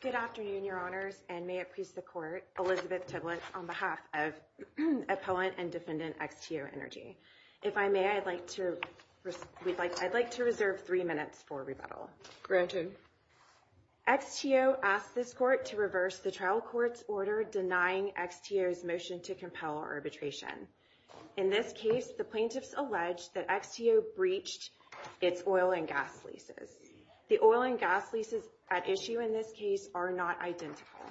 Good afternoon, your honors, and may it please the court, Elizabeth Tiblett on behalf of opponent and defendant XTOEnergy. If I may, I'd like to reserve three minutes for rebuttal. Granted. XTOE asked this court to reverse the trial court's order denying XTOE's motion to compel arbitration. In this case, the plaintiffs alleged that XTOE breached its oil and gas leases. The oil and gas leases at issue in this case are not identical.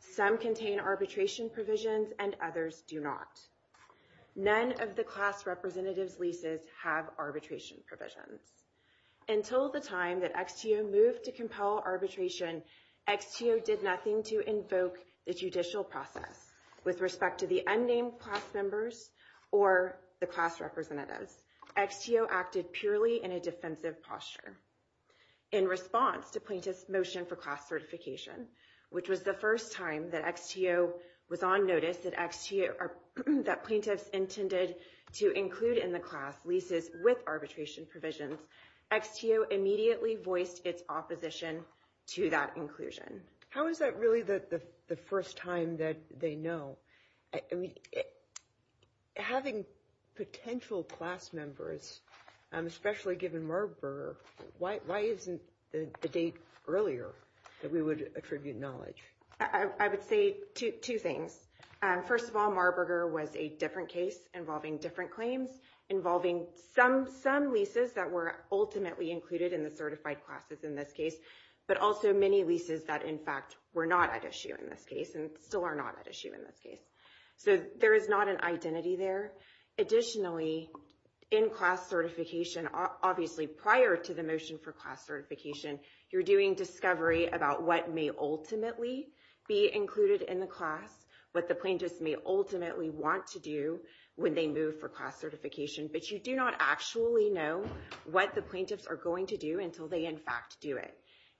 Some contain arbitration provisions and others do not. None of the class representative's leases have arbitration provisions. Until the time that XTOE moved to compel arbitration, XTOE did nothing to invoke the judicial process with respect to the unnamed class members or the class representatives. XTOE acted purely in a defensive posture. In response to plaintiff's motion for class certification, which was the first time that XTOE was on notice that plaintiffs intended to include in the class leases with arbitration provisions, XTOE immediately voiced its opposition to that inclusion. How is that really the first time that they know? Having potential class members, especially given Marburger, why isn't the date earlier that we would attribute knowledge? I would say two things. First of all, Marburger was a different case involving different claims, involving some leases that were ultimately included in the certified classes in this case, but also many leases that in fact were not at issue in this case and still are not at issue in this case. So there is not an identity there. Additionally, in class certification, obviously prior to the motion for class certification, you're doing discovery about what may ultimately be included in the class, what the plaintiffs may ultimately want to do when they move for class certification, but you do not actually know what the plaintiffs are going to do until they in fact do it.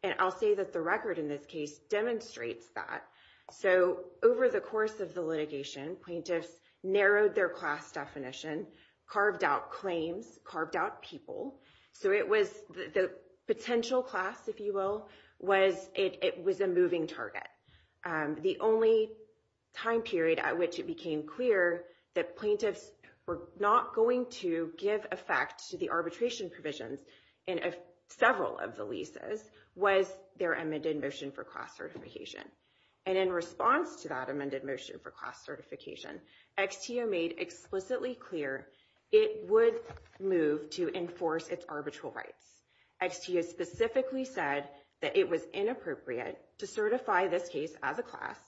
And I'll say that the record in this case demonstrates that. So over the course of the litigation, plaintiffs narrowed their class definition, carved out claims, carved out people. So the potential class, if you will, it was a moving target. The only time period at which it became clear that plaintiffs were not going to give effect to the arbitration provisions in several of the leases was their amended motion for class certification. And in response to that amended motion for class certification, XTO made explicitly clear it would move to enforce its arbitral rights. XTO specifically said that it was inappropriate to certify this case as a class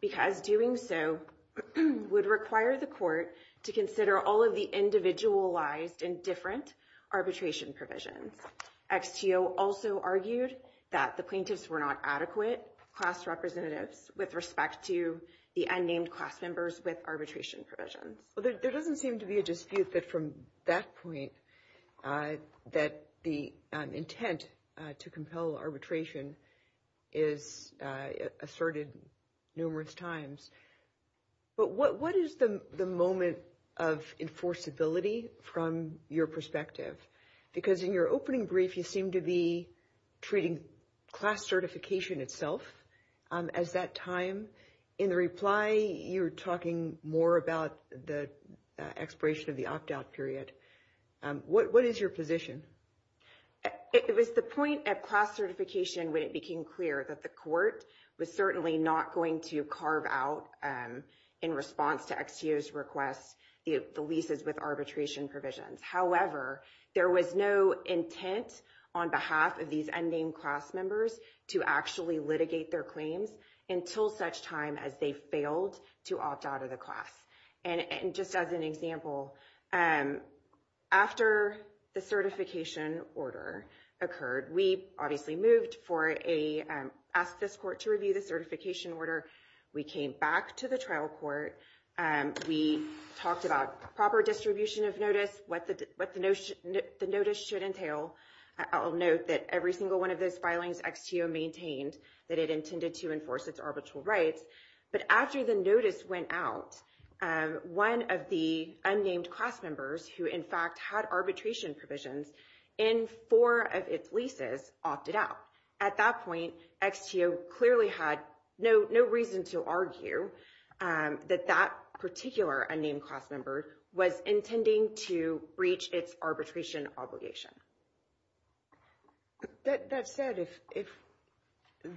because doing so would require the court to consider all of the individualized and different arbitration provisions. XTO also argued that the plaintiffs were not adequate class representatives with respect to the unnamed class members with arbitration provisions. Well, there doesn't seem to be a dispute that from that point that the intent to compel arbitration is asserted numerous times. But what is the moment of enforceability from your perspective? Because in your opening brief, you seem to be treating class certification itself as that time. In the reply, you're talking more about the expiration of the opt-out period. What is your position? It was the point at class certification when it became clear that the court was certainly not going to carve out in response to XTO's request the leases with arbitration provisions. However, there was no intent on behalf of these unnamed class members to actually litigate their claims until such time as they failed to opt out of the class. And just as an example, after the certification order occurred, we obviously asked this court to review the certification order. We came back to the trial court. We talked about proper distribution of notice, what the notice should entail. I'll note that every single one of those filings XTO maintained that it intended to enforce its arbitral rights. But after the notice went out, one of the unnamed class members who in fact had arbitration provisions in four of its leases opted out. At that point, XTO clearly had no reason to argue that that particular unnamed class member was intending to breach its arbitration obligation. That said, if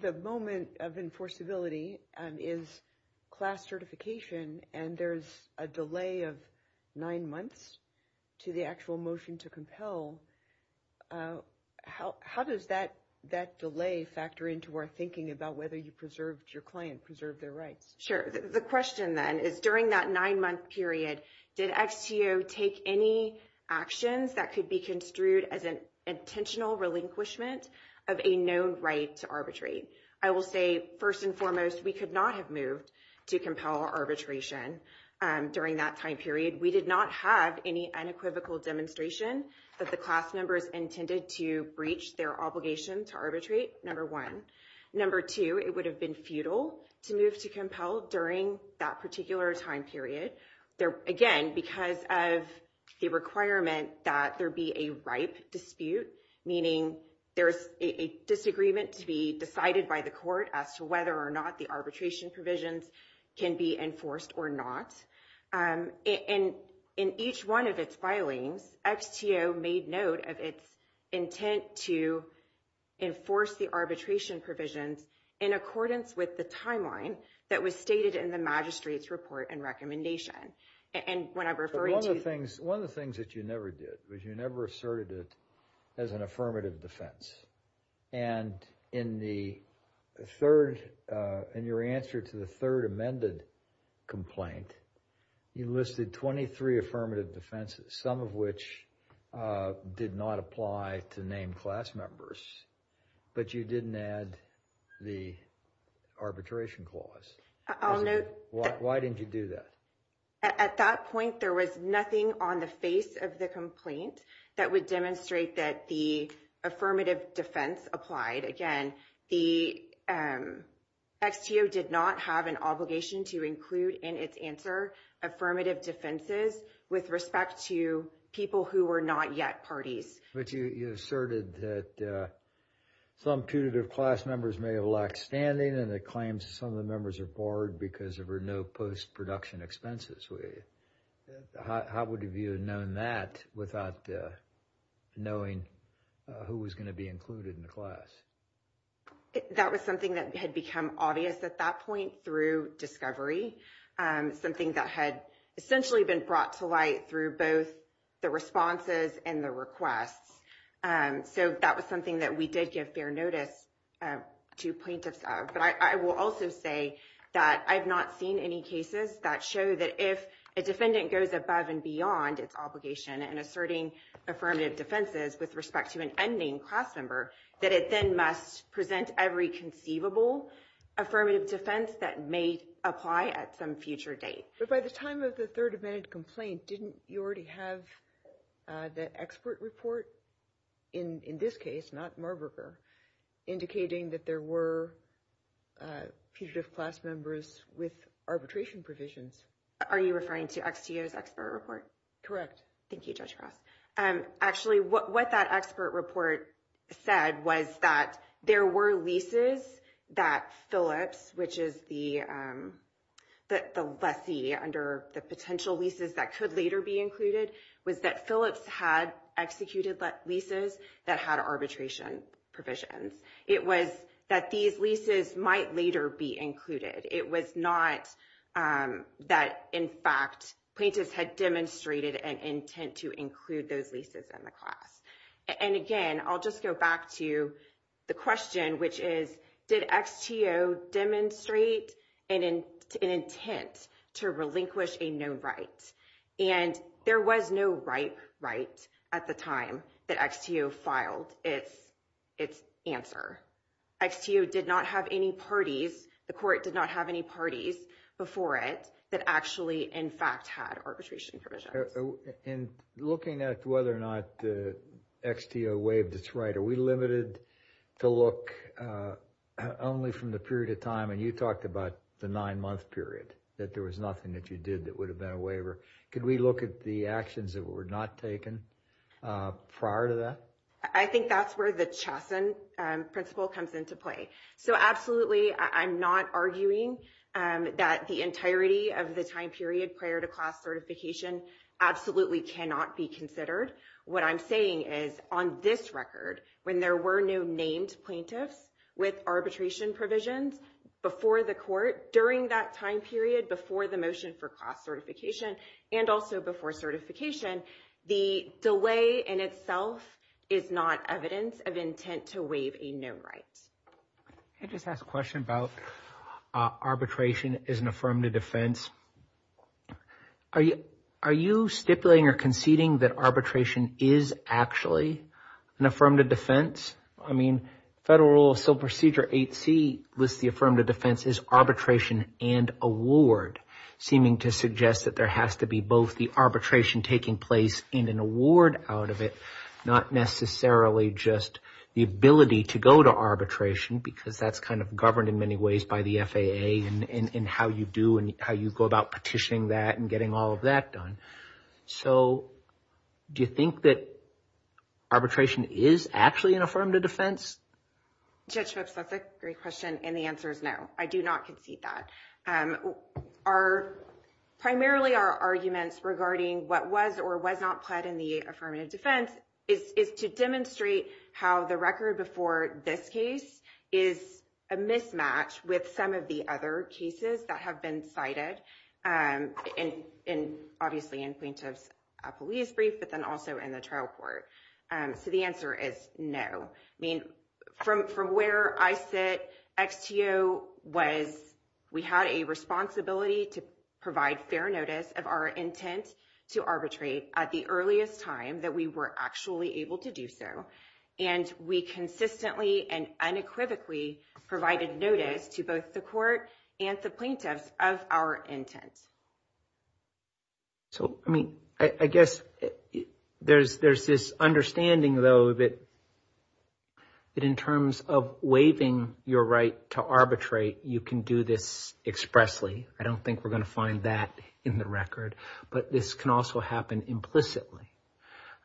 the moment of enforceability is class certification and there's a delay of nine months to the actual motion to compel, how does that delay factor into our thinking about whether you preserved your claim, preserved their rights? Sure. The question then is during that nine-month period, did XTO take any actions that could be construed as an intentional relinquishment of a known right to arbitrate? I will say first and foremost, we could not have moved to compel arbitration during that time period. We did not have any unequivocal demonstration that the class members intended to breach their obligation to arbitrate, number one. Number two, it would have been futile to move to compel during that particular time period. Again, because of the requirement that there be a ripe dispute, meaning there's a disagreement to be decided by the court as to whether or not the arbitration provisions can be enforced or not. In each one of its filings, XTO made note of its intent to enforce the arbitration provisions in accordance with the timeline that was stated in the magistrate's report and recommendation. And when I'm referring to... One of the things that you never did was you never asserted it as an affirmative defense. And in your answer to the third amended complaint, you listed 23 affirmative defenses, some of which did not apply to name class members, but you didn't add the arbitration clause. Why didn't you do that? At that point, there was nothing on the face of the complaint that would demonstrate that the affirmative defense applied. Again, the XTO did not have an obligation to include in its answer affirmative defenses with respect to people who were not yet parties. But you asserted that some putative class members may have lacked standing and it claims some of the members are bored because there were no post-production expenses. How would you have known that without knowing who was going to be included in the class? That was something that had become obvious at that point through discovery, something that had essentially been brought to light through both the responses and the requests. So that was something that we did give fair notice to plaintiffs of. But I will also say that I've not seen any cases that show that if a defendant goes above and beyond its obligation in asserting affirmative defenses with respect to an unnamed class member, that it then must present every conceivable affirmative defense that may apply at some future date. But by the time of the third amended complaint, didn't you already have the expert report in this case, not Marburger, indicating that there were putative class members with arbitration provisions? Are you referring to XTO's expert report? Correct. Thank you, Judge Ross. Actually, what that expert report said was that there were leases that Phillips, which is the lessee under the potential leases that could later be included, was that Phillips had executed leases that had arbitration provisions. It was that these leases might later be included. It was not that, in fact, plaintiffs had demonstrated an intent to include those leases in the class. And again, I'll just go back to the question, which is, did XTO demonstrate an intent to relinquish a known right? And there was no right at the time that XTO filed its answer. XTO did not have any parties, the court did not have any parties before it that actually, in fact, had arbitration provisions. In looking at whether or not the XTO waived its right, are we limited to look only from the period of time, and you talked about the nine month period, that there was nothing that you did that would have been a waiver. Could we look at the actions that were not taken prior to that? I think that's where the Chesson principle comes into play. So absolutely, I'm not arguing that the entirety of the time period prior to class certification absolutely cannot be considered. What I'm saying is, on this record, when there were no named plaintiffs with arbitration provisions before the court during that time period, before the motion for class certification, and also before certification, the delay in itself is not evidence of intent to waive a known right. Can I just ask a question about arbitration as an affirmative defense? Are you stipulating or conceding that arbitration is actually an affirmative defense? I mean, so Procedure 8C lists the affirmative defense as arbitration and award, seeming to suggest that there has to be both the arbitration taking place in an award out of it, not necessarily just the ability to go to arbitration, because that's kind of governed in many ways by the FAA and how you do and how you go about petitioning that and getting all of that done. So do you think that arbitration is actually an affirmative defense? Judge Phipps, that's a great question and the answer is no. I do not concede that. Primarily, our arguments regarding what was or was not pled in the affirmative defense is to demonstrate how the record before this case is a mismatch with some of the other cases that have been cited, obviously in plaintiff's police brief, but then also in the case of the XTO. So the answer is no. I mean, from where I sit, XTO was, we had a responsibility to provide fair notice of our intent to arbitrate at the earliest time that we were actually able to do so, and we consistently and unequivocally provided notice to both the court and the plaintiffs of our intent. So, I mean, I guess there's this understanding, though, that in terms of waiving your right to arbitrate, you can do this expressly. I don't think we're going to find that in the record, but this can also happen implicitly.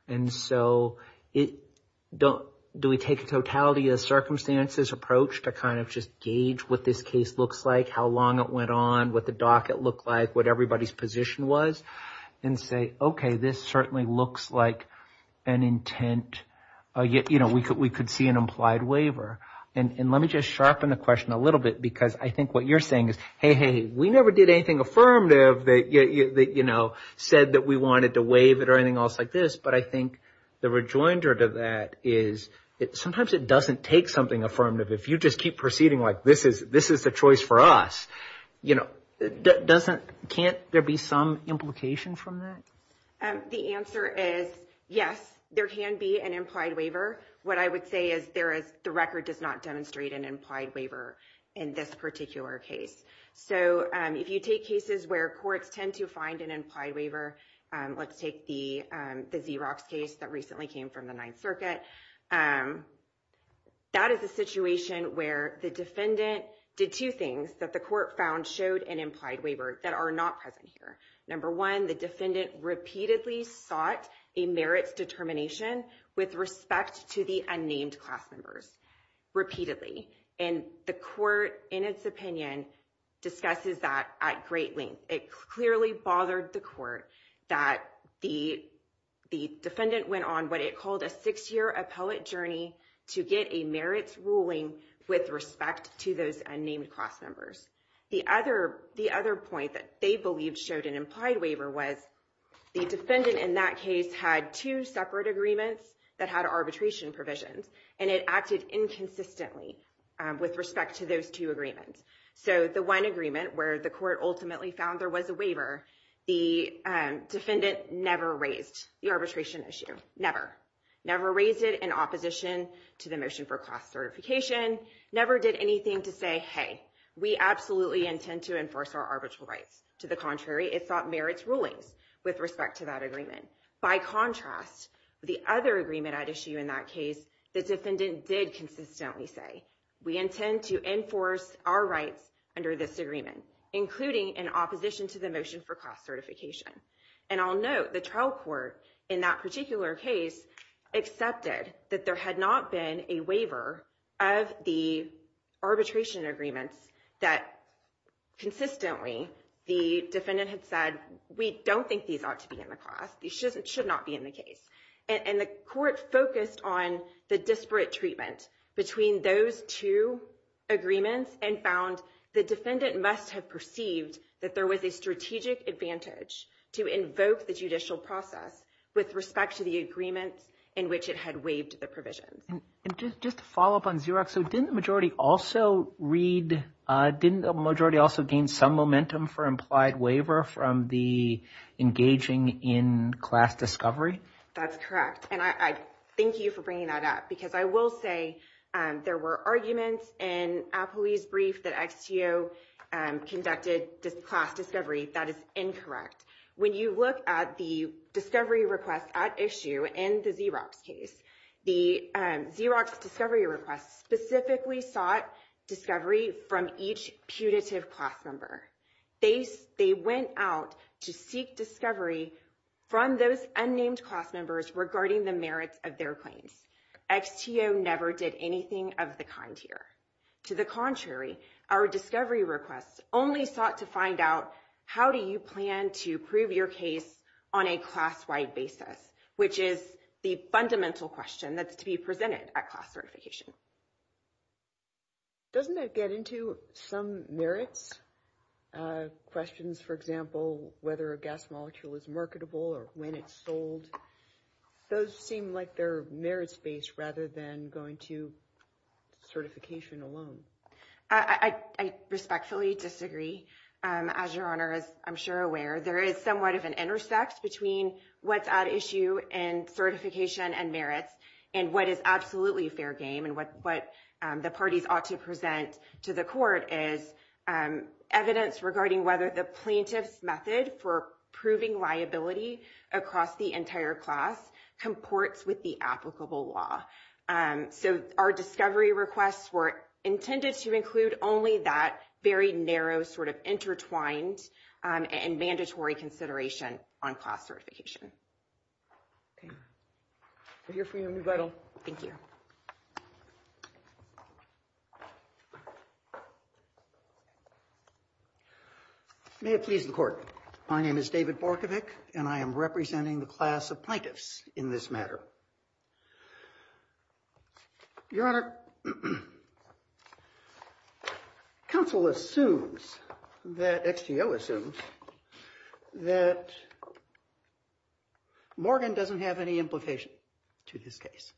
And so, do we take a totality circumstances approach to kind of just gauge what this case looks like, how long it went on, what the docket looked like, what everybody's position was, and say, okay, this certainly looks like an intent, you know, we could see an implied waiver. And let me just sharpen the question a little bit because I think what you're saying is, hey, hey, we never did anything affirmative that, you know, said that we wanted to waive it or anything else like this, but I think the rejoinder to that is sometimes it doesn't take something affirmative. If you just keep proceeding like this is the choice for us, you know, can't there be some implication from that? The answer is yes, there can be an implied waiver. What I would say is the record does not demonstrate an implied waiver in this particular case. So, if you take cases where courts tend to find an implied waiver, let's take the Xerox case that recently came from the Ninth Circuit. That is a situation where the defendant did two things that the court found showed an implied waiver that are not present here. Number one, the defendant repeatedly sought a merits determination with respect to the unnamed class members, repeatedly. And the court, in its opinion, discusses that at great length. It clearly bothered the court that the defendant went on what it called a six-year appellate journey to get a merits ruling with respect to those unnamed class members. The other point that they believed showed an implied waiver was the defendant in that case had two separate agreements that had arbitration provisions, and it acted inconsistently with respect to those two agreements. So, the one agreement where the court ultimately found there was a waiver, the defendant never raised the arbitration issue, never. Never raised it in opposition to the motion for class certification, never did anything to say, hey, we absolutely intend to enforce our arbitral rights. To the contrary, it sought merits rulings with respect to that agreement. By contrast, the other agreement at issue in that case, the defendant did consistently say, we intend to enforce our rights under this agreement, including in opposition to the motion for class certification. And I'll note the trial court in that particular case accepted that there had not been a waiver of the arbitration agreements that consistently the defendant had said, we don't think these ought to be in the class. These the disparate treatment between those two agreements and found the defendant must have perceived that there was a strategic advantage to invoke the judicial process with respect to the agreements in which it had waived the provision. And just to follow up on Xerox, so didn't the majority also read, didn't the majority also gain some momentum for implied waiver from the engaging in class discovery? That's correct. And I thank you for bringing that up because I will say there were arguments in Apoli's brief that XTO conducted class discovery. That is incorrect. When you look at the discovery request at issue in the Xerox case, the Xerox discovery request specifically sought discovery from each punitive class member. They went out to seek discovery from those unnamed class members regarding the merits of their claims. XTO never did anything of the kind here. To the contrary, our discovery requests only sought to find out how do you plan to prove your case on a class-wide basis, which is the fundamental question that's to be presented at class certification. Doesn't that get into some merits? Questions, for example, whether a gas molecule is marketable or when it's sold. Those seem like they're merits-based rather than going to certification alone. I respectfully disagree, as your honor is I'm sure aware. There is somewhat of an intersect between what's at issue and certification and merits and what is absolutely fair game and what the parties ought to present to the court is evidence regarding whether the plaintiff's method for proving liability across the entire class comports with the applicable law. So our discovery requests were intended to include only that very narrow sort of intertwined and mandatory consideration on class certification. Okay. We're here for you, Ms. Vidal. Thank you. May it please the court. My name is David Borkovic, and I am representing the class of plaintiffs in this matter. Your honor, counsel assumes that, XTO assumes, that Morgan doesn't have any implication to this case.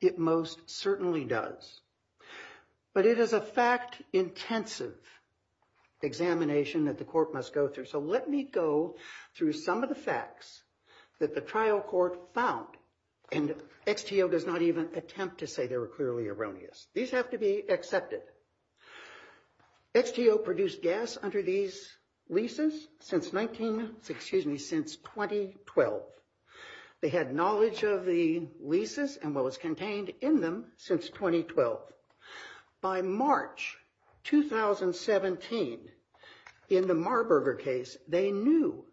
It most certainly does. But it is a fact-intensive examination that the court must go through. So let me go through some of the facts that the trial court found, and XTO does not even attempt to say they were clearly erroneous. These have to be accepted. XTO produced gas under these leases since 19, excuse me, since 2012. They had knowledge of the leases and what was contained in them since 2012. By March 2017, in the Marburger case, they knew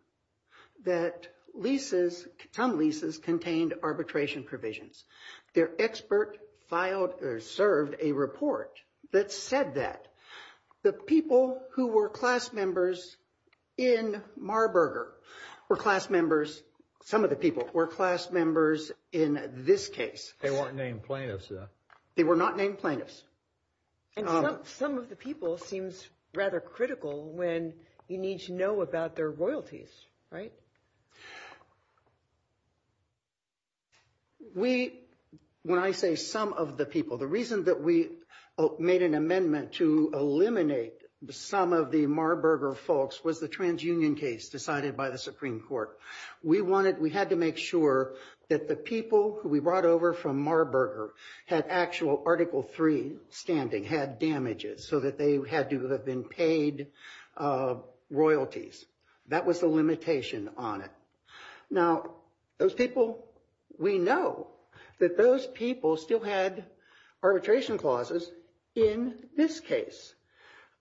that leases, some leases contained arbitration provisions. Their expert filed or served a report that said that. The people who were class members in Marburger were class members, some of the people were class members in this case. They weren't named plaintiffs, though. They were not named plaintiffs. And some of the people seems rather critical when you need to know about their royalties, right? We, when I say some of the people, the reason that we made an amendment to eliminate some of the Marburger folks was the transunion case decided by the Supreme Court. We wanted, we had to make sure that the people who we brought over from Marburger had actual Article III standing, had damages, so that they had to have been paid royalties. That was the limitation on it. Now, those people, we know that those people still had arbitration clauses in this case.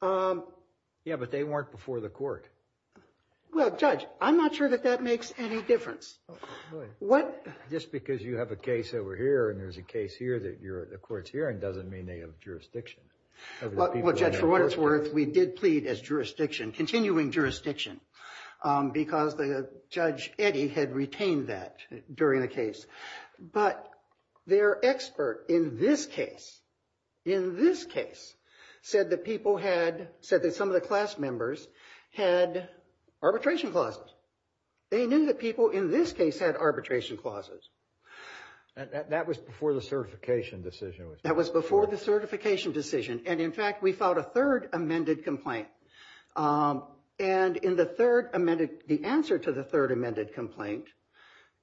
Yeah, but they weren't before the court. Well, Judge, I'm not sure that that makes any difference. What? Just because you have a case over here and there's a case here that you're at the court's hearing doesn't mean they have jurisdiction. Well, Judge, for what it's worth, we did plead as jurisdiction, continuing jurisdiction, because Judge Eddy had retained that during the case. But their expert in this case, in this case, said that people had, said that some of the class members had arbitration clauses. They knew that people in this case had arbitration clauses. That was before the certification decision. That was before the certification decision. And in fact, we filed a third amended complaint. And in the third amended, the answer to the third amended complaint,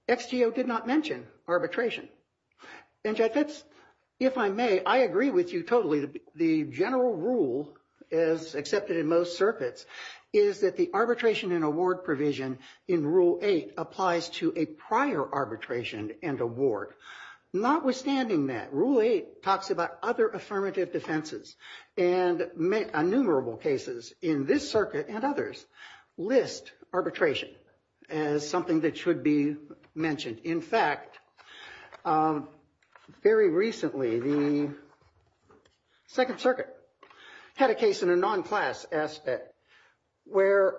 XGO did not mention arbitration. And Judge, if I may, I agree with you totally. The general rule, as accepted in most circuits, is that the arbitration and award provision in Rule 8 applies to a prior arbitration and award. Notwithstanding that, Rule 8 talks about other affirmative defenses. And innumerable cases in this circuit and others list arbitration as something that should be mentioned. In fact, very recently, the Second Circuit had a case in a non-class aspect where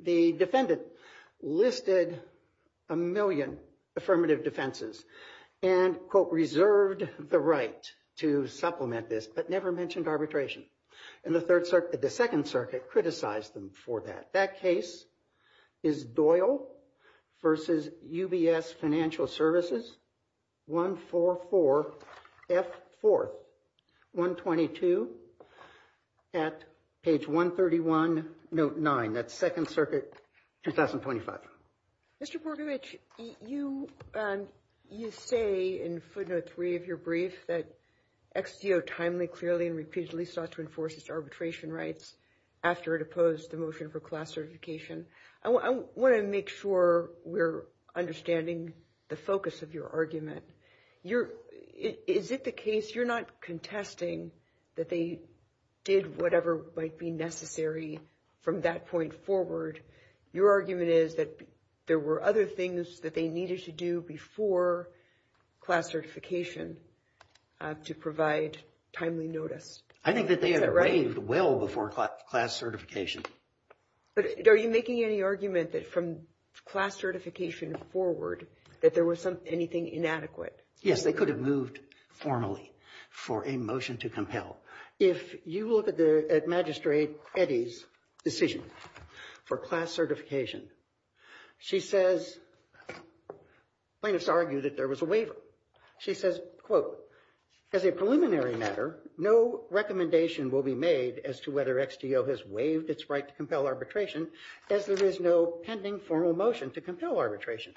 the defendant listed a million affirmative defenses and, quote, reserved the right to supplement this, but never mentioned arbitration. And the Second Circuit criticized them for that. That case is Doyle v. UBS Financial Services 144F4-122 at page 131, note 9. That's Second Circuit 2025. Mr. Borgovich, you say in footnote 3 of your brief that XGO timely, clearly, and repeatedly sought to enforce its arbitration rights after it opposed the motion for class certification. I want to make sure we're understanding the focus of your argument. Is it the case you're not contesting that they did whatever might be necessary from that point forward? Your argument is that there were other things that they needed to do before class certification to provide timely notice. I think that they had waived well before class certification. But are you making any argument that from class certification forward that there was anything inadequate? Yes, they could have moved formally for a motion to compel. If you look at Magistrate Eddy's decision for class certification, she says plaintiffs argued that there was a waiver. She says, quote, as a preliminary matter, no recommendation will be made as to whether XGO has waived its right to compel arbitration as there is no pending formal motion to compel arbitration.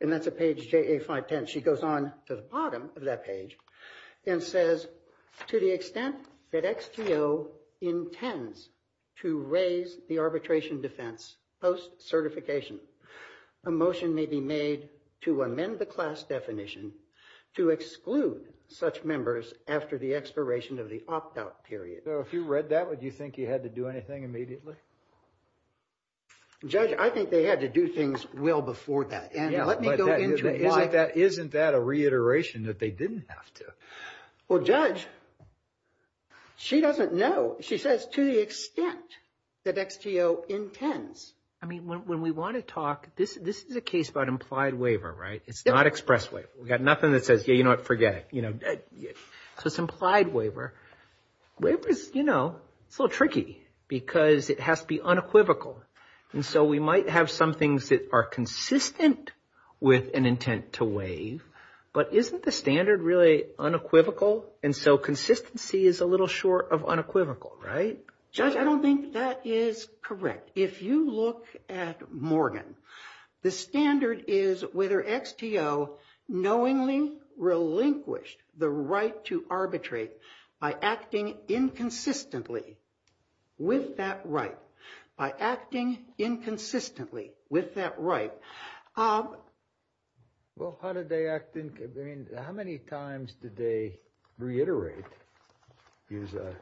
And that's at page JA-510. She goes on to the bottom of that page and says, to the extent that XGO intends to raise the arbitration defense post-certification, a motion may be made to amend the class definition to exclude such members after the expiration of the opt-out period. So if you read that, would you think you had to do anything immediately? Judge, I think they had to do things well before that. And let me go into it. Isn't that a reiteration that they didn't have to? Well, Judge, she doesn't know. She says, to the extent that XGO intends. I mean, when we want to talk, this is a case about implied waiver, right? It's not express waiver. We've got nothing that says, yeah, you know what, forget it. So it's implied waiver. Waivers, you know, it's a little tricky because it has to be unequivocal. And so we might have some things that are consistent with an intent to waive. But isn't the standard really unequivocal? And so consistency is a little short of unequivocal, right? Judge, I don't think that is correct. If you look at Morgan, the standard is whether XTO knowingly relinquished the right to arbitrate by acting inconsistently with that right. By acting inconsistently with that right. Well, how did they act? How many times did they reiterate? Use a,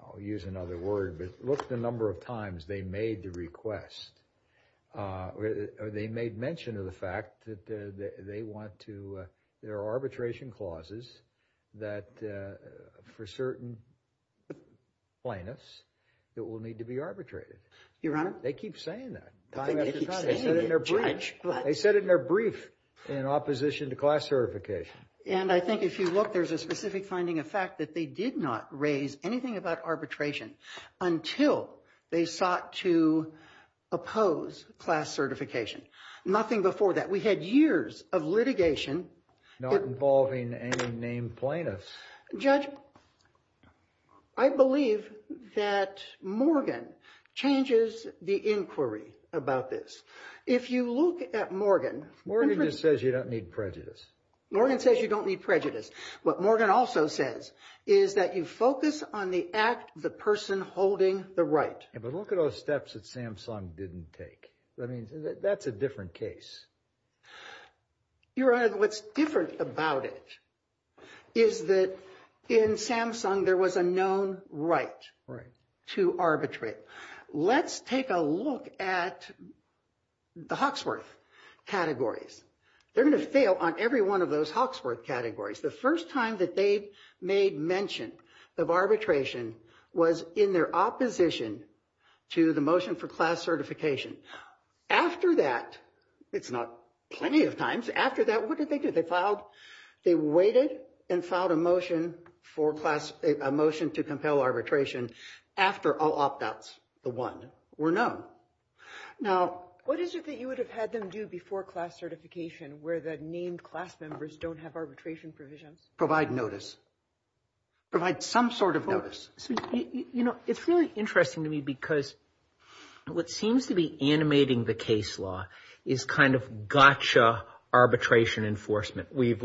I'll use another word, but look the number of times they made the request. They made mention of the fact that they want to, there are arbitration clauses that for certain plaintiffs that will need to be arbitrated. Your Honor. They keep saying that. I think they keep saying it, Judge. They said it in their brief in opposition to class certification. And I think if you look, there's a specific finding of fact that they did not raise anything about arbitration until they sought to oppose class certification. Nothing before that. We had years of litigation. Not involving any named plaintiffs. Judge, I believe that Morgan changes the inquiry about this. If you look at Morgan. Morgan just says you don't need prejudice. Morgan says you don't need prejudice. What Morgan also says is that you focus on the act, the person holding the right. But look at those steps that Samsung didn't take. I mean, that's a different case. Your Honor, what's different about it is that in Samsung, there was a known right to arbitrate. Let's take a look at the Hawksworth categories. They're going to fail on every one of those Hawksworth categories. The first time that they made mention of arbitration was in their opposition to the motion for class certification. After that, it's not plenty of times. After that, what did they do? They filed, they waited and filed a motion for class, a motion to compel arbitration after all opt-outs, the one, were known. Now. What is it that you would have had them do before class certification where the named class members don't have arbitration provisions? Provide notice. Provide some sort of notice. You know, it's really interesting to me because what seems to be animating the case law is kind of gotcha arbitration enforcement. We've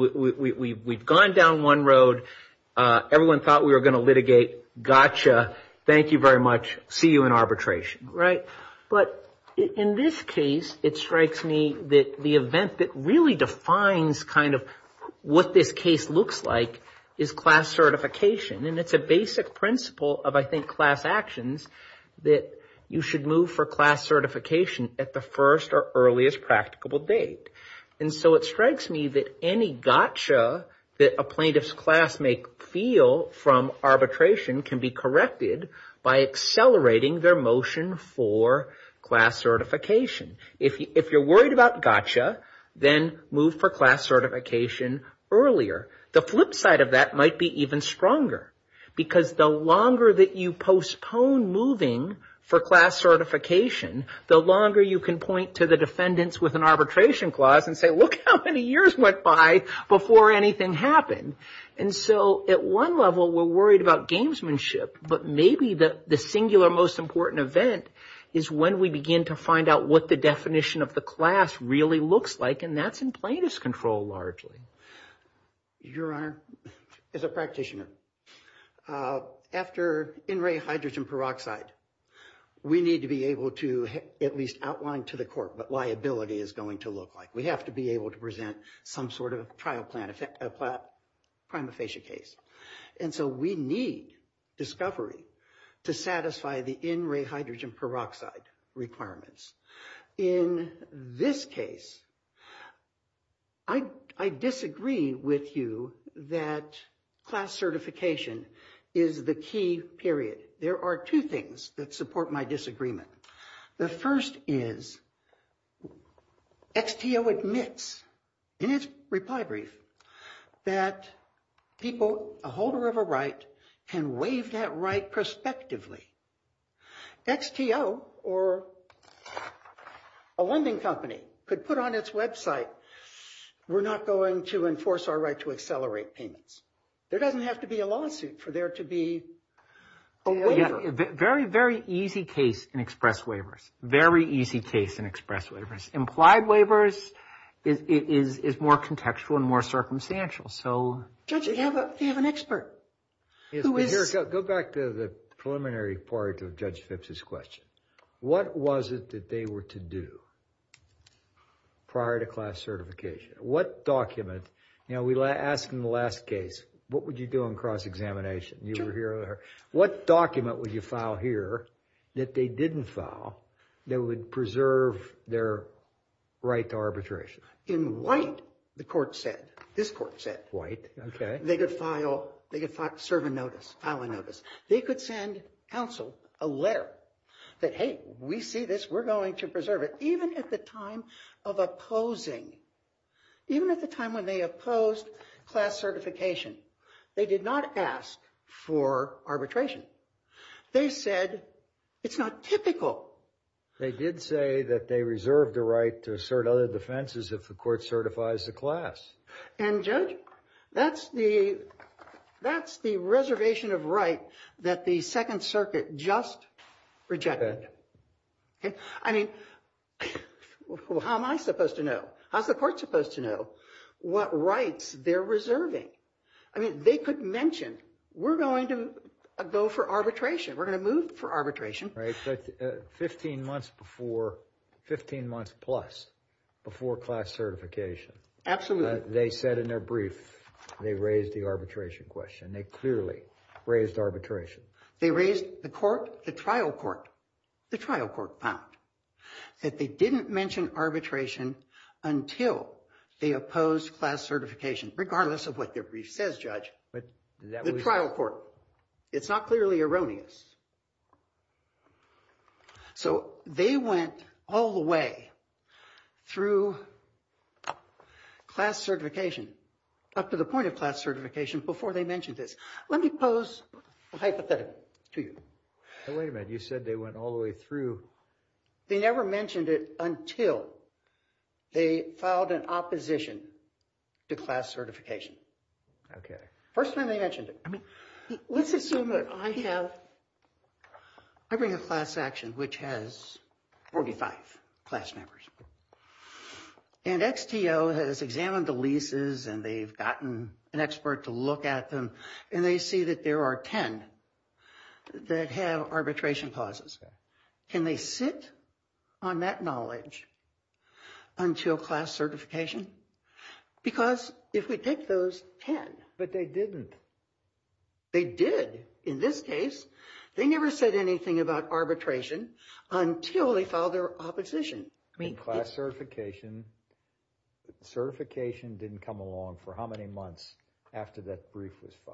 gone down one road. Everyone thought we were going to litigate. Gotcha. Thank you very much. See you in arbitration. Right. But in this case, it strikes me that the event that really defines kind of what this case looks like is class certification. And it's a basic principle of, I think, class actions that you should move for class certification at the first or earliest practicable date. And so it strikes me that any gotcha that a plaintiff's class may feel from arbitration can be corrected by accelerating their motion for class certification. If you're worried about gotcha, then move for class certification earlier. The flip side of that might be even stronger because the longer that you postpone moving for class certification, the longer you can point to the defendants with an arbitration clause and say, look how many years went by before anything happened. And so at one level, we're worried about gamesmanship. But maybe the singular most important event is when we begin to find out what the definition of the class really looks like. And that's in plaintiff's control largely. Your Honor, as a practitioner, after in-ray hydrogen peroxide, we need to be able to at least outline to the court what liability is going to look like. We have to be able to present some sort of trial plan, a prima facie case. And so we need discovery to satisfy the in-ray hydrogen peroxide requirements. In this case, I disagree with you that class certification is the key period. There are two things that support my disagreement. The first is XTO admits in its reply brief that people, a holder of a right, can waive that right prospectively. XTO or a lending company could put on its website, we're not going to enforce our right to accelerate payments. There doesn't have to be a lawsuit for there to be a waiver. A very, very easy case in express waivers. Very easy case in express waivers. Implied waivers is more contextual and more circumstantial. So, Judge, you have an expert. Yes, but here, go back to the preliminary part of Judge Phipps's question. What was it that they were to do prior to class certification? What document, you know, we asked in the last case, what would you do in cross-examination? You were here earlier. What document would you file here that they didn't file that would preserve their right to arbitration? In white, the court said, this court said. White, okay. They could file, they could file, serve a notice, file a notice. They could send counsel a letter that, hey, we see this. We're going to preserve it. Even at the time of opposing, even at the time when they opposed class certification, they did not ask for arbitration. They said, it's not typical. They did say that they reserved the right to assert other defenses if the court certifies the class. And Judge, that's the reservation of right that the Second Circuit just rejected. I mean, how am I supposed to know? How's the court supposed to know what rights they're reserving? I mean, they could mention, we're going to go for arbitration. We're going to move for arbitration. Right, but 15 months before, 15 months plus before class certification. Absolutely. They said in their brief, they raised the arbitration question. They clearly raised arbitration. They raised the court, the trial court, the trial court found that they didn't mention arbitration until they opposed class certification, regardless of what their brief says, Judge, the trial court. It's not clearly erroneous. So, they went all the way through class certification, up to the point of class certification before they mentioned this. Let me pose a hypothetical to you. Now, wait a minute, you said they went all the way through. They never mentioned it until they filed an opposition to class certification. Okay. First time they mentioned it. I mean, let's assume that I have a class certification. I bring a class action which has 45 class members. And XTO has examined the leases and they've gotten an expert to look at them. And they see that there are 10 that have arbitration clauses. Can they sit on that knowledge until class certification? Because if we take those 10. But they didn't. They did. In this case, they never said anything about arbitration until they filed their opposition. In class certification, certification didn't come along for how many months after that brief was filed?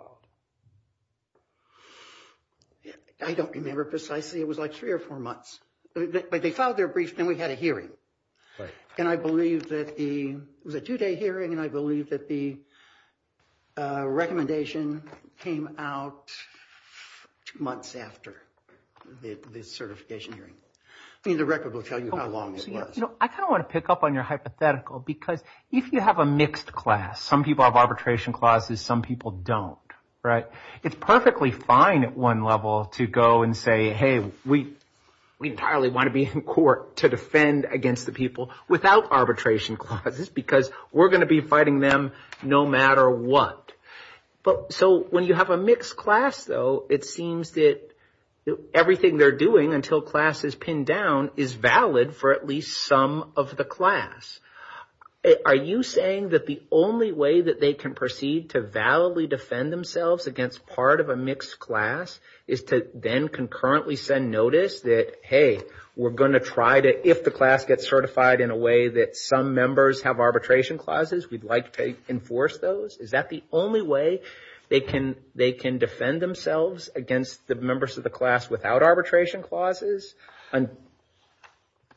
I don't remember precisely. It was like three or four months. But they filed their brief, then we had a hearing. Right. And I believe that the, it was a two-day hearing. And I believe that the recommendation came out two months after the certification hearing. I mean, the record will tell you how long it was. You know, I kind of want to pick up on your hypothetical. Because if you have a mixed class, some people have arbitration clauses, some people don't. Right. It's perfectly fine at one level to go and say, hey, we entirely want to be in court to defend against the people without arbitration clauses. Because we're going to be fighting them no matter what. So when you have a mixed class, though, it seems that everything they're doing until class is pinned down is valid for at least some of the class. Are you saying that the only way that they can proceed to validly defend themselves against part of a mixed class is to then concurrently send notice that, hey, we're going to try to, if the class gets certified in a way that some members have arbitration clauses, we'd like to enforce those? Is that the only way they can defend themselves against the members of the class without arbitration clauses?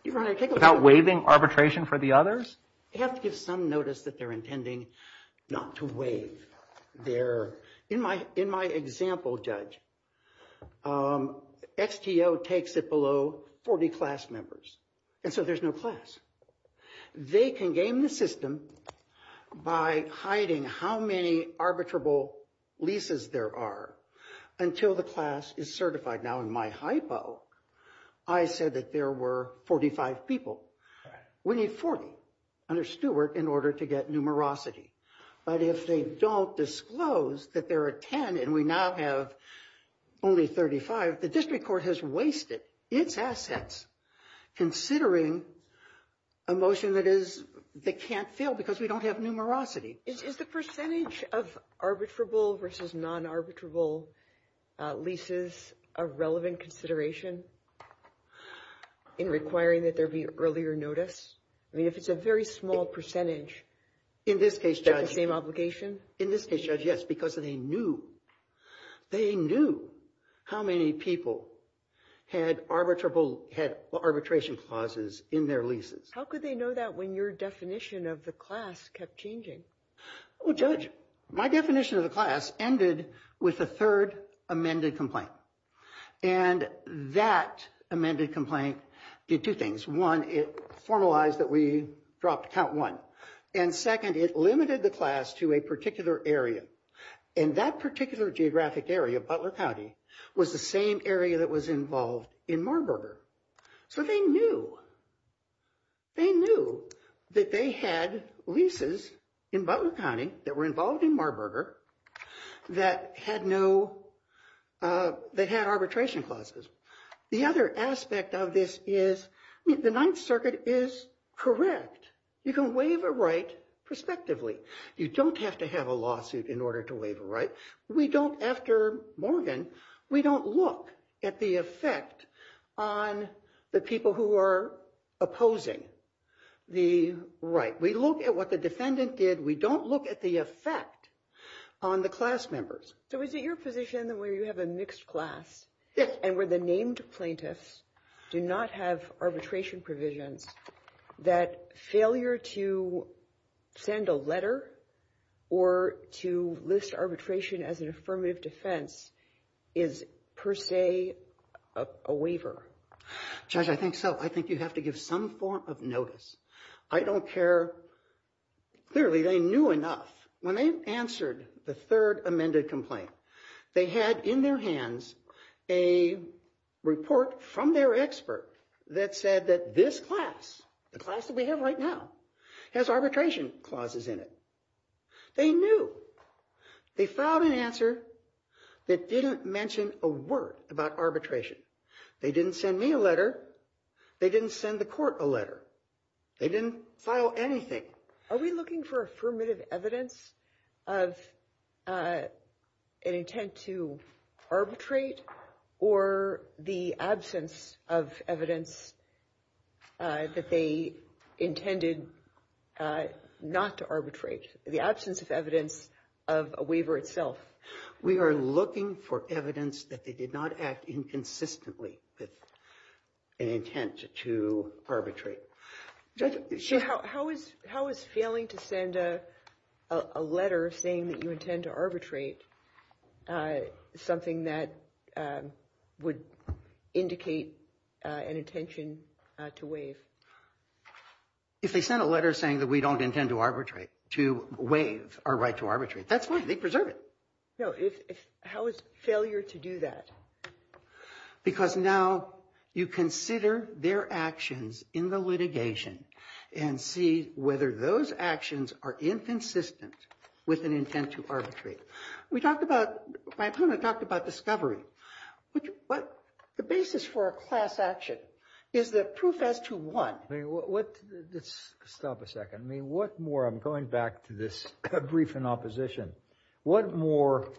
Without waiving arbitration for the others? They have to give some notice that they're intending not to waive their, in my example, judge. XTO takes it below 40 class members. And so there's no class. They can game the system by hiding how many arbitrable leases there are until the class is certified. Now, in my hypo, I said that there were 45 people. We need 40 under Stewart in order to get numerosity. But if they don't disclose that there are 10 and we now have only 35, the district court has wasted its assets considering a motion that can't fail because we don't have numerosity. Is the percentage of arbitrable versus non-arbitrable leases a relevant consideration in requiring that there be earlier notice? I mean, if it's a very small percentage. In this case, judge. Is that the same obligation? In this case, judge, yes, because they knew. They knew how many people had arbitration clauses in their leases. How could they know that when your definition of the class kept changing? Well, judge, my definition of the class ended with the third amended complaint. And that amended complaint did two things. One, it formalized that we dropped count one. And second, it limited the class to a particular area. And that particular geographic area, Butler County, was the same area that was involved in Marburger. So they knew. They knew that they had leases in Butler County that were involved in Marburger that had arbitration clauses. The other aspect of this is the Ninth Circuit is correct. You can waive a right prospectively. You don't have to have a lawsuit in order to waive a right. We don't, after Morgan, we don't look at the effect on the people who are opposing the right. We look at what the defendant did. We don't look at the effect on the class members. So is it your position that where you have a mixed class and where the named plaintiffs do not have arbitration provisions that failure to send a letter or to list arbitration as an affirmative defense is per se a waiver? Judge, I think so. I think you have to give some form of notice. I don't care. Clearly, they knew enough. When they answered the third amended complaint, they had in their hands a report from their expert that said that this class, the class that we have right now, has arbitration clauses in it. They knew. They filed an answer that didn't mention a word about arbitration. They didn't send me a letter. They didn't send the court a letter. They didn't file anything. Are we looking for affirmative evidence of an intent to arbitrate or the absence of evidence that they intended not to arbitrate, the absence of evidence of a waiver itself? We are looking for evidence that they did not act inconsistently with an intent to arbitrate. How is failing to send a letter saying that you intend to arbitrate is something that would indicate an intention to waive? If they sent a letter saying that we don't intend to arbitrate, to waive our right to arbitrate, that's fine. They preserve it. No, how is failure to do that? Because now you consider their actions in the litigation and see whether those actions are inconsistent with an intent to arbitrate. We talked about, my opponent talked about discovery. The basis for a class action is the proof as to what. Let's stop a second. I mean, what more? I'm going back to this brief in opposition. What more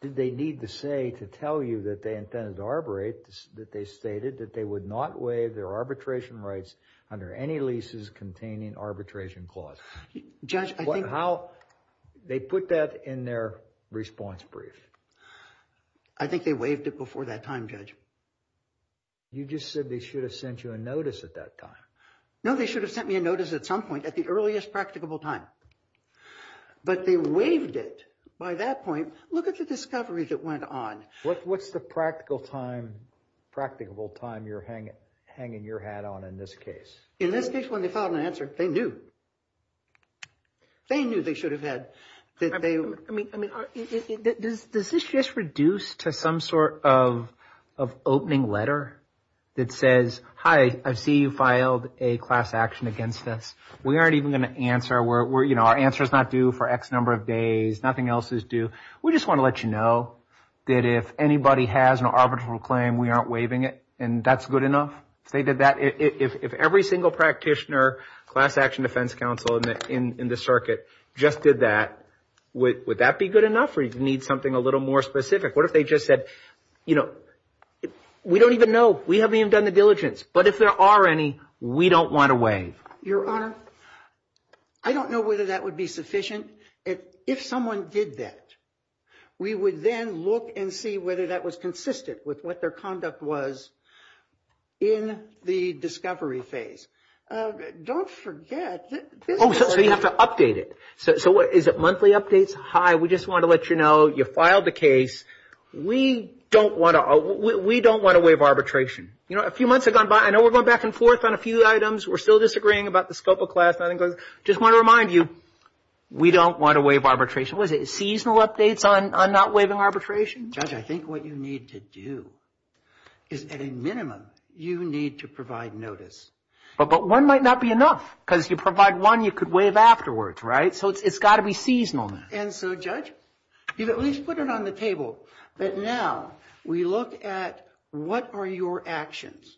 did they need to say to tell you that they intended to arbitrate that they stated that they would not waive their arbitration rights under any leases containing arbitration clause? Judge, I think. How they put that in their response brief? I think they waived it before that time, Judge. You just said they should have sent you a notice at that time. No, they should have sent me a notice at some point, at the earliest practicable time. But they waived it by that point. Look at the discovery that went on. What's the practical time, practicable time you're hanging your hat on in this case? In this case, when they found an answer, they knew. They knew they should have had. I mean, does this just reduce to some sort of opening letter that says, hi, I see you filed a class action against us. We aren't even going to answer. We're, you know, our answer is not due for X number of days. Nothing else is due. We just want to let you know that if anybody has an arbitral claim, we aren't waiving it. And that's good enough. If they did that, if every single practitioner, class action defense counsel in the circuit just did that, would that be good enough or do you need something a little more specific? What if they just said, you know, we don't even know. We haven't even done the diligence. But if there are any, we don't want to waive. Your Honor, I don't know whether that would be sufficient. If someone did that, we would then look and see whether that was consistent with what their conduct was in the discovery phase. Don't forget. Oh, so you have to update it. So is it monthly updates? Hi, we just want to let you know you filed the case. We don't want to waive arbitration. You know, a few months have gone by. I know we're going back and forth on a few items. We're still disagreeing about the scope of class. Nothing goes. Just want to remind you, we don't want to waive arbitration. Was it seasonal updates on not waiving arbitration? Judge, I think what you need to do is at a minimum, you need to provide notice. But one might not be enough because you provide one, you could waive afterwards, right? So it's got to be seasonal. And so, Judge, you've at least put it on the table. But now we look at what are your actions?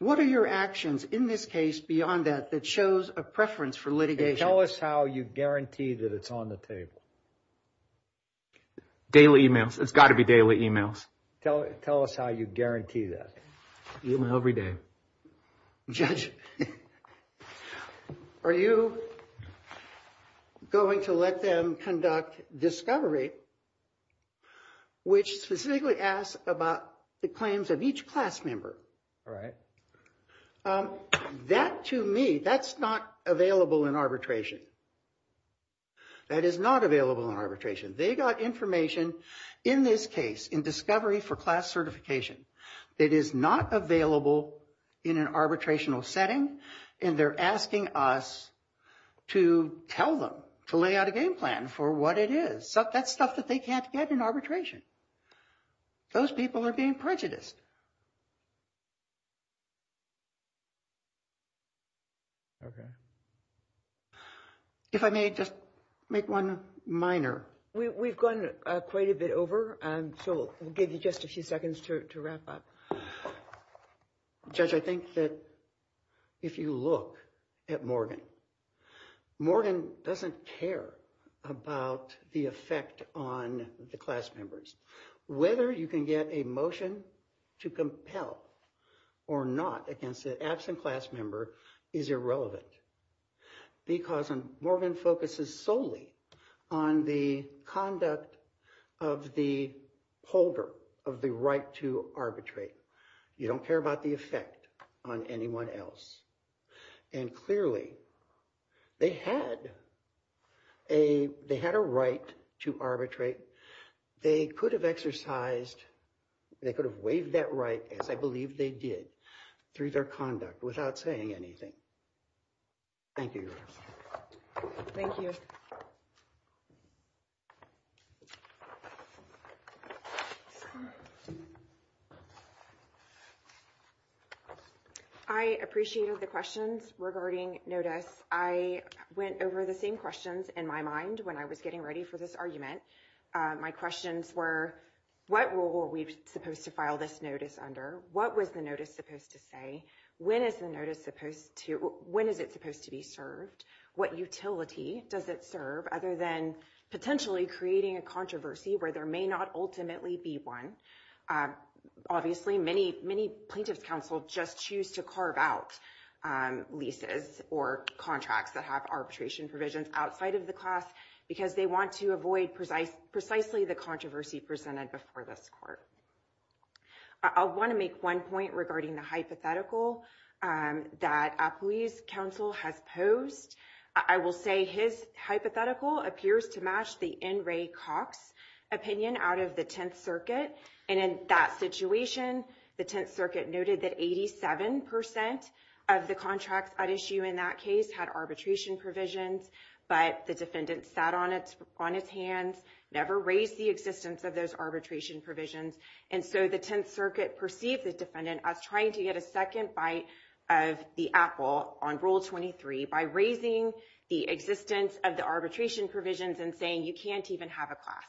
What are your actions in this case beyond that, that shows a preference for litigation? Tell us how you guarantee that it's on the table. Daily emails. It's got to be daily emails. Tell us how you guarantee that. Email every day. Judge, are you going to let them conduct discovery, which specifically asks about the claims of each class member? All right. That, to me, that's not available in arbitration. That is not available in arbitration. They got information in this case, in discovery for class certification. It is not available in an arbitrational setting. And they're asking us to tell them to lay out a game plan for what it is. That's stuff that they can't get in arbitration. Those people are being prejudiced. Okay. If I may just make one minor. We've gone quite a bit over. So we'll give you just a few seconds to wrap up. Judge, I think that if you look at Morgan, Morgan doesn't care about the effect on the class members. Whether you can get a motion to compel or not against an absent class member is irrelevant. Because Morgan focuses solely on the conduct of the holder of the right to arbitrate. You don't care about the effect on anyone else. And clearly, they had a right to arbitrate. They could have exercised, they could have waived that right, as I believe they did, through their conduct without saying anything. Thank you. Thank you. I appreciated the questions regarding notice. I went over the same questions in my mind when I was getting ready for this argument. My questions were, what role were we supposed to file this notice under? What was the notice supposed to say? When is the notice supposed to, when is it supposed to be served? What utility does it serve other than potentially creating a controversy where there may not ultimately be one? Obviously, many, many plaintiffs counsel just choose to carve out leases or contracts that have arbitration provisions outside of the class because they want to avoid precisely the controversy presented before this court. I'll want to make one point regarding the hypothetical that Appui's counsel has posed. I will say his hypothetical appears to match the N. Ray Cox opinion out of the Tenth Circuit. And in that situation, the Tenth Circuit noted that 87% of the contracts at issue in that case had arbitration provisions, but the defendant sat on its hands, never raised the existence of those arbitration provisions and so the Tenth Circuit perceived the defendant as trying to get a second bite of the apple on Rule 23 by raising the existence of the arbitration provisions and saying you can't even have a class.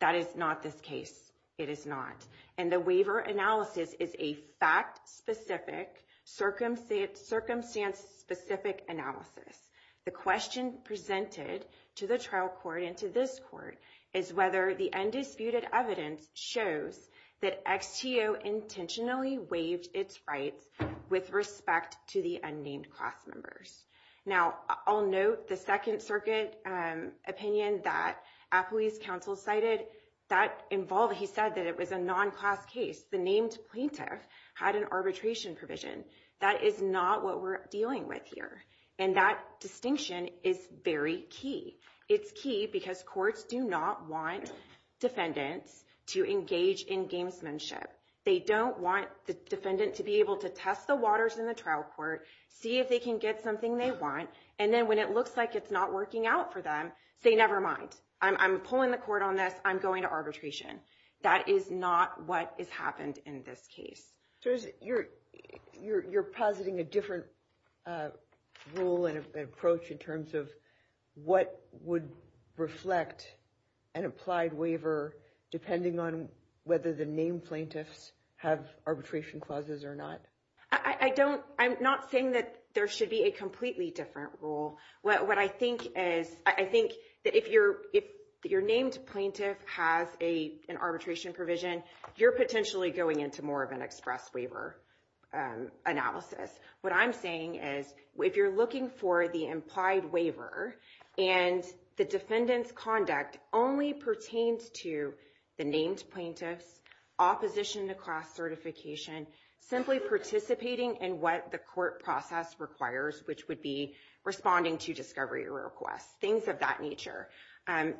That is not this case. It is not. And the waiver analysis is a fact-specific, circumstance-specific analysis. The question presented to the trial court and to this court is whether the undisputed evidence shows that XTO intentionally waived its rights with respect to the unnamed class members. Now, I'll note the Second Circuit opinion that Appui's counsel cited. That involved, he said that it was a non-class case. The named plaintiff had an arbitration provision. That is not what we're dealing with here. And that distinction is very key. It's key because courts do not want defendants to engage in gamesmanship. They don't want the defendant to be able to test the waters in the trial court, see if they can get something they want, and then when it looks like it's not working out for them, say, nevermind, I'm pulling the court on this. I'm going to arbitration. That is not what has happened in this case. So you're positing a different rule and approach in terms of what would reflect an applied waiver depending on whether the named plaintiffs have arbitration clauses or not? I'm not saying that there should be a completely different rule. What I think is, I think that if your named plaintiff has an arbitration provision, you're potentially going into more of an express waiver analysis. What I'm saying is if you're looking for the implied waiver and the defendant's conduct only pertains to the named plaintiffs, opposition to class certification, simply participating in what the court process requires, which would be responding to discovery requests, things of that nature,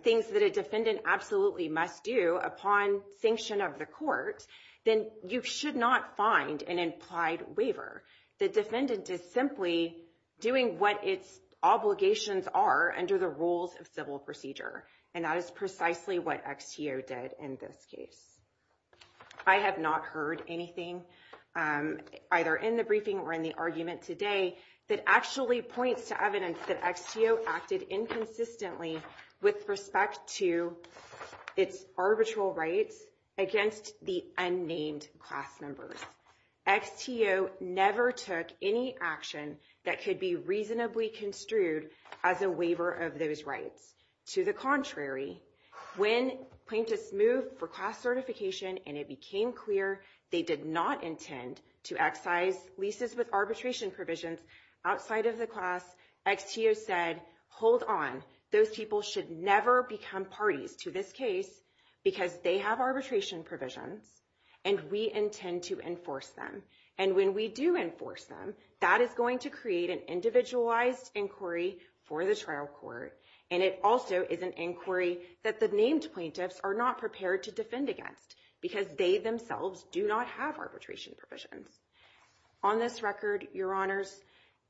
things that a defendant absolutely must do upon sanction of the court, then you should not find an implied waiver. The defendant is simply doing what its obligations are under the rules of civil procedure. And that is precisely what XTO did in this case. I have not heard anything, either in the briefing or in the argument today, that actually points to evidence that XTO acted inconsistently with respect to its arbitral rights against the unnamed class members. XTO never took any action that could be reasonably construed as a waiver of those rights. To the contrary, when plaintiffs moved for class certification and it became clear they did not intend to excise leases with arbitration provisions outside of the class, XTO said, hold on, those people should never become parties to this case because they have arbitration provisions and we intend to enforce them. And when we do enforce them, that is going to create an individualized inquiry for the trial court. And it also is an inquiry that the named plaintiffs are not prepared to defend against because they themselves do not have arbitration provisions. On this record, your honors,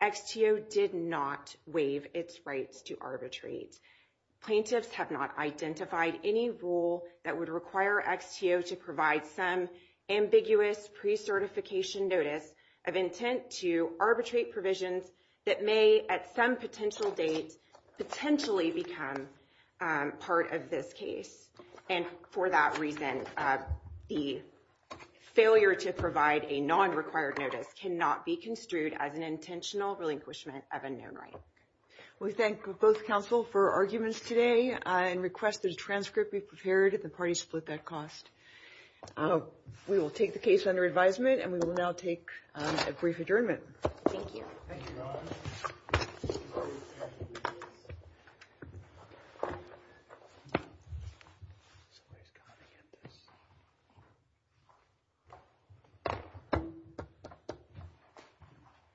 XTO did not waive its rights to arbitrate. Plaintiffs have not identified any rule that would require XTO to provide some ambiguous pre-certification notice of intent to arbitrate provisions that may at some potential date potentially become part of this case. And for that reason, the failure to provide a non-required notice cannot be construed as an intentional relinquishment of a known right. We thank both counsel for arguments today and request that a transcript be prepared if the parties split that cost. We will take the case under advisement and we will now take a brief adjournment. Thank you.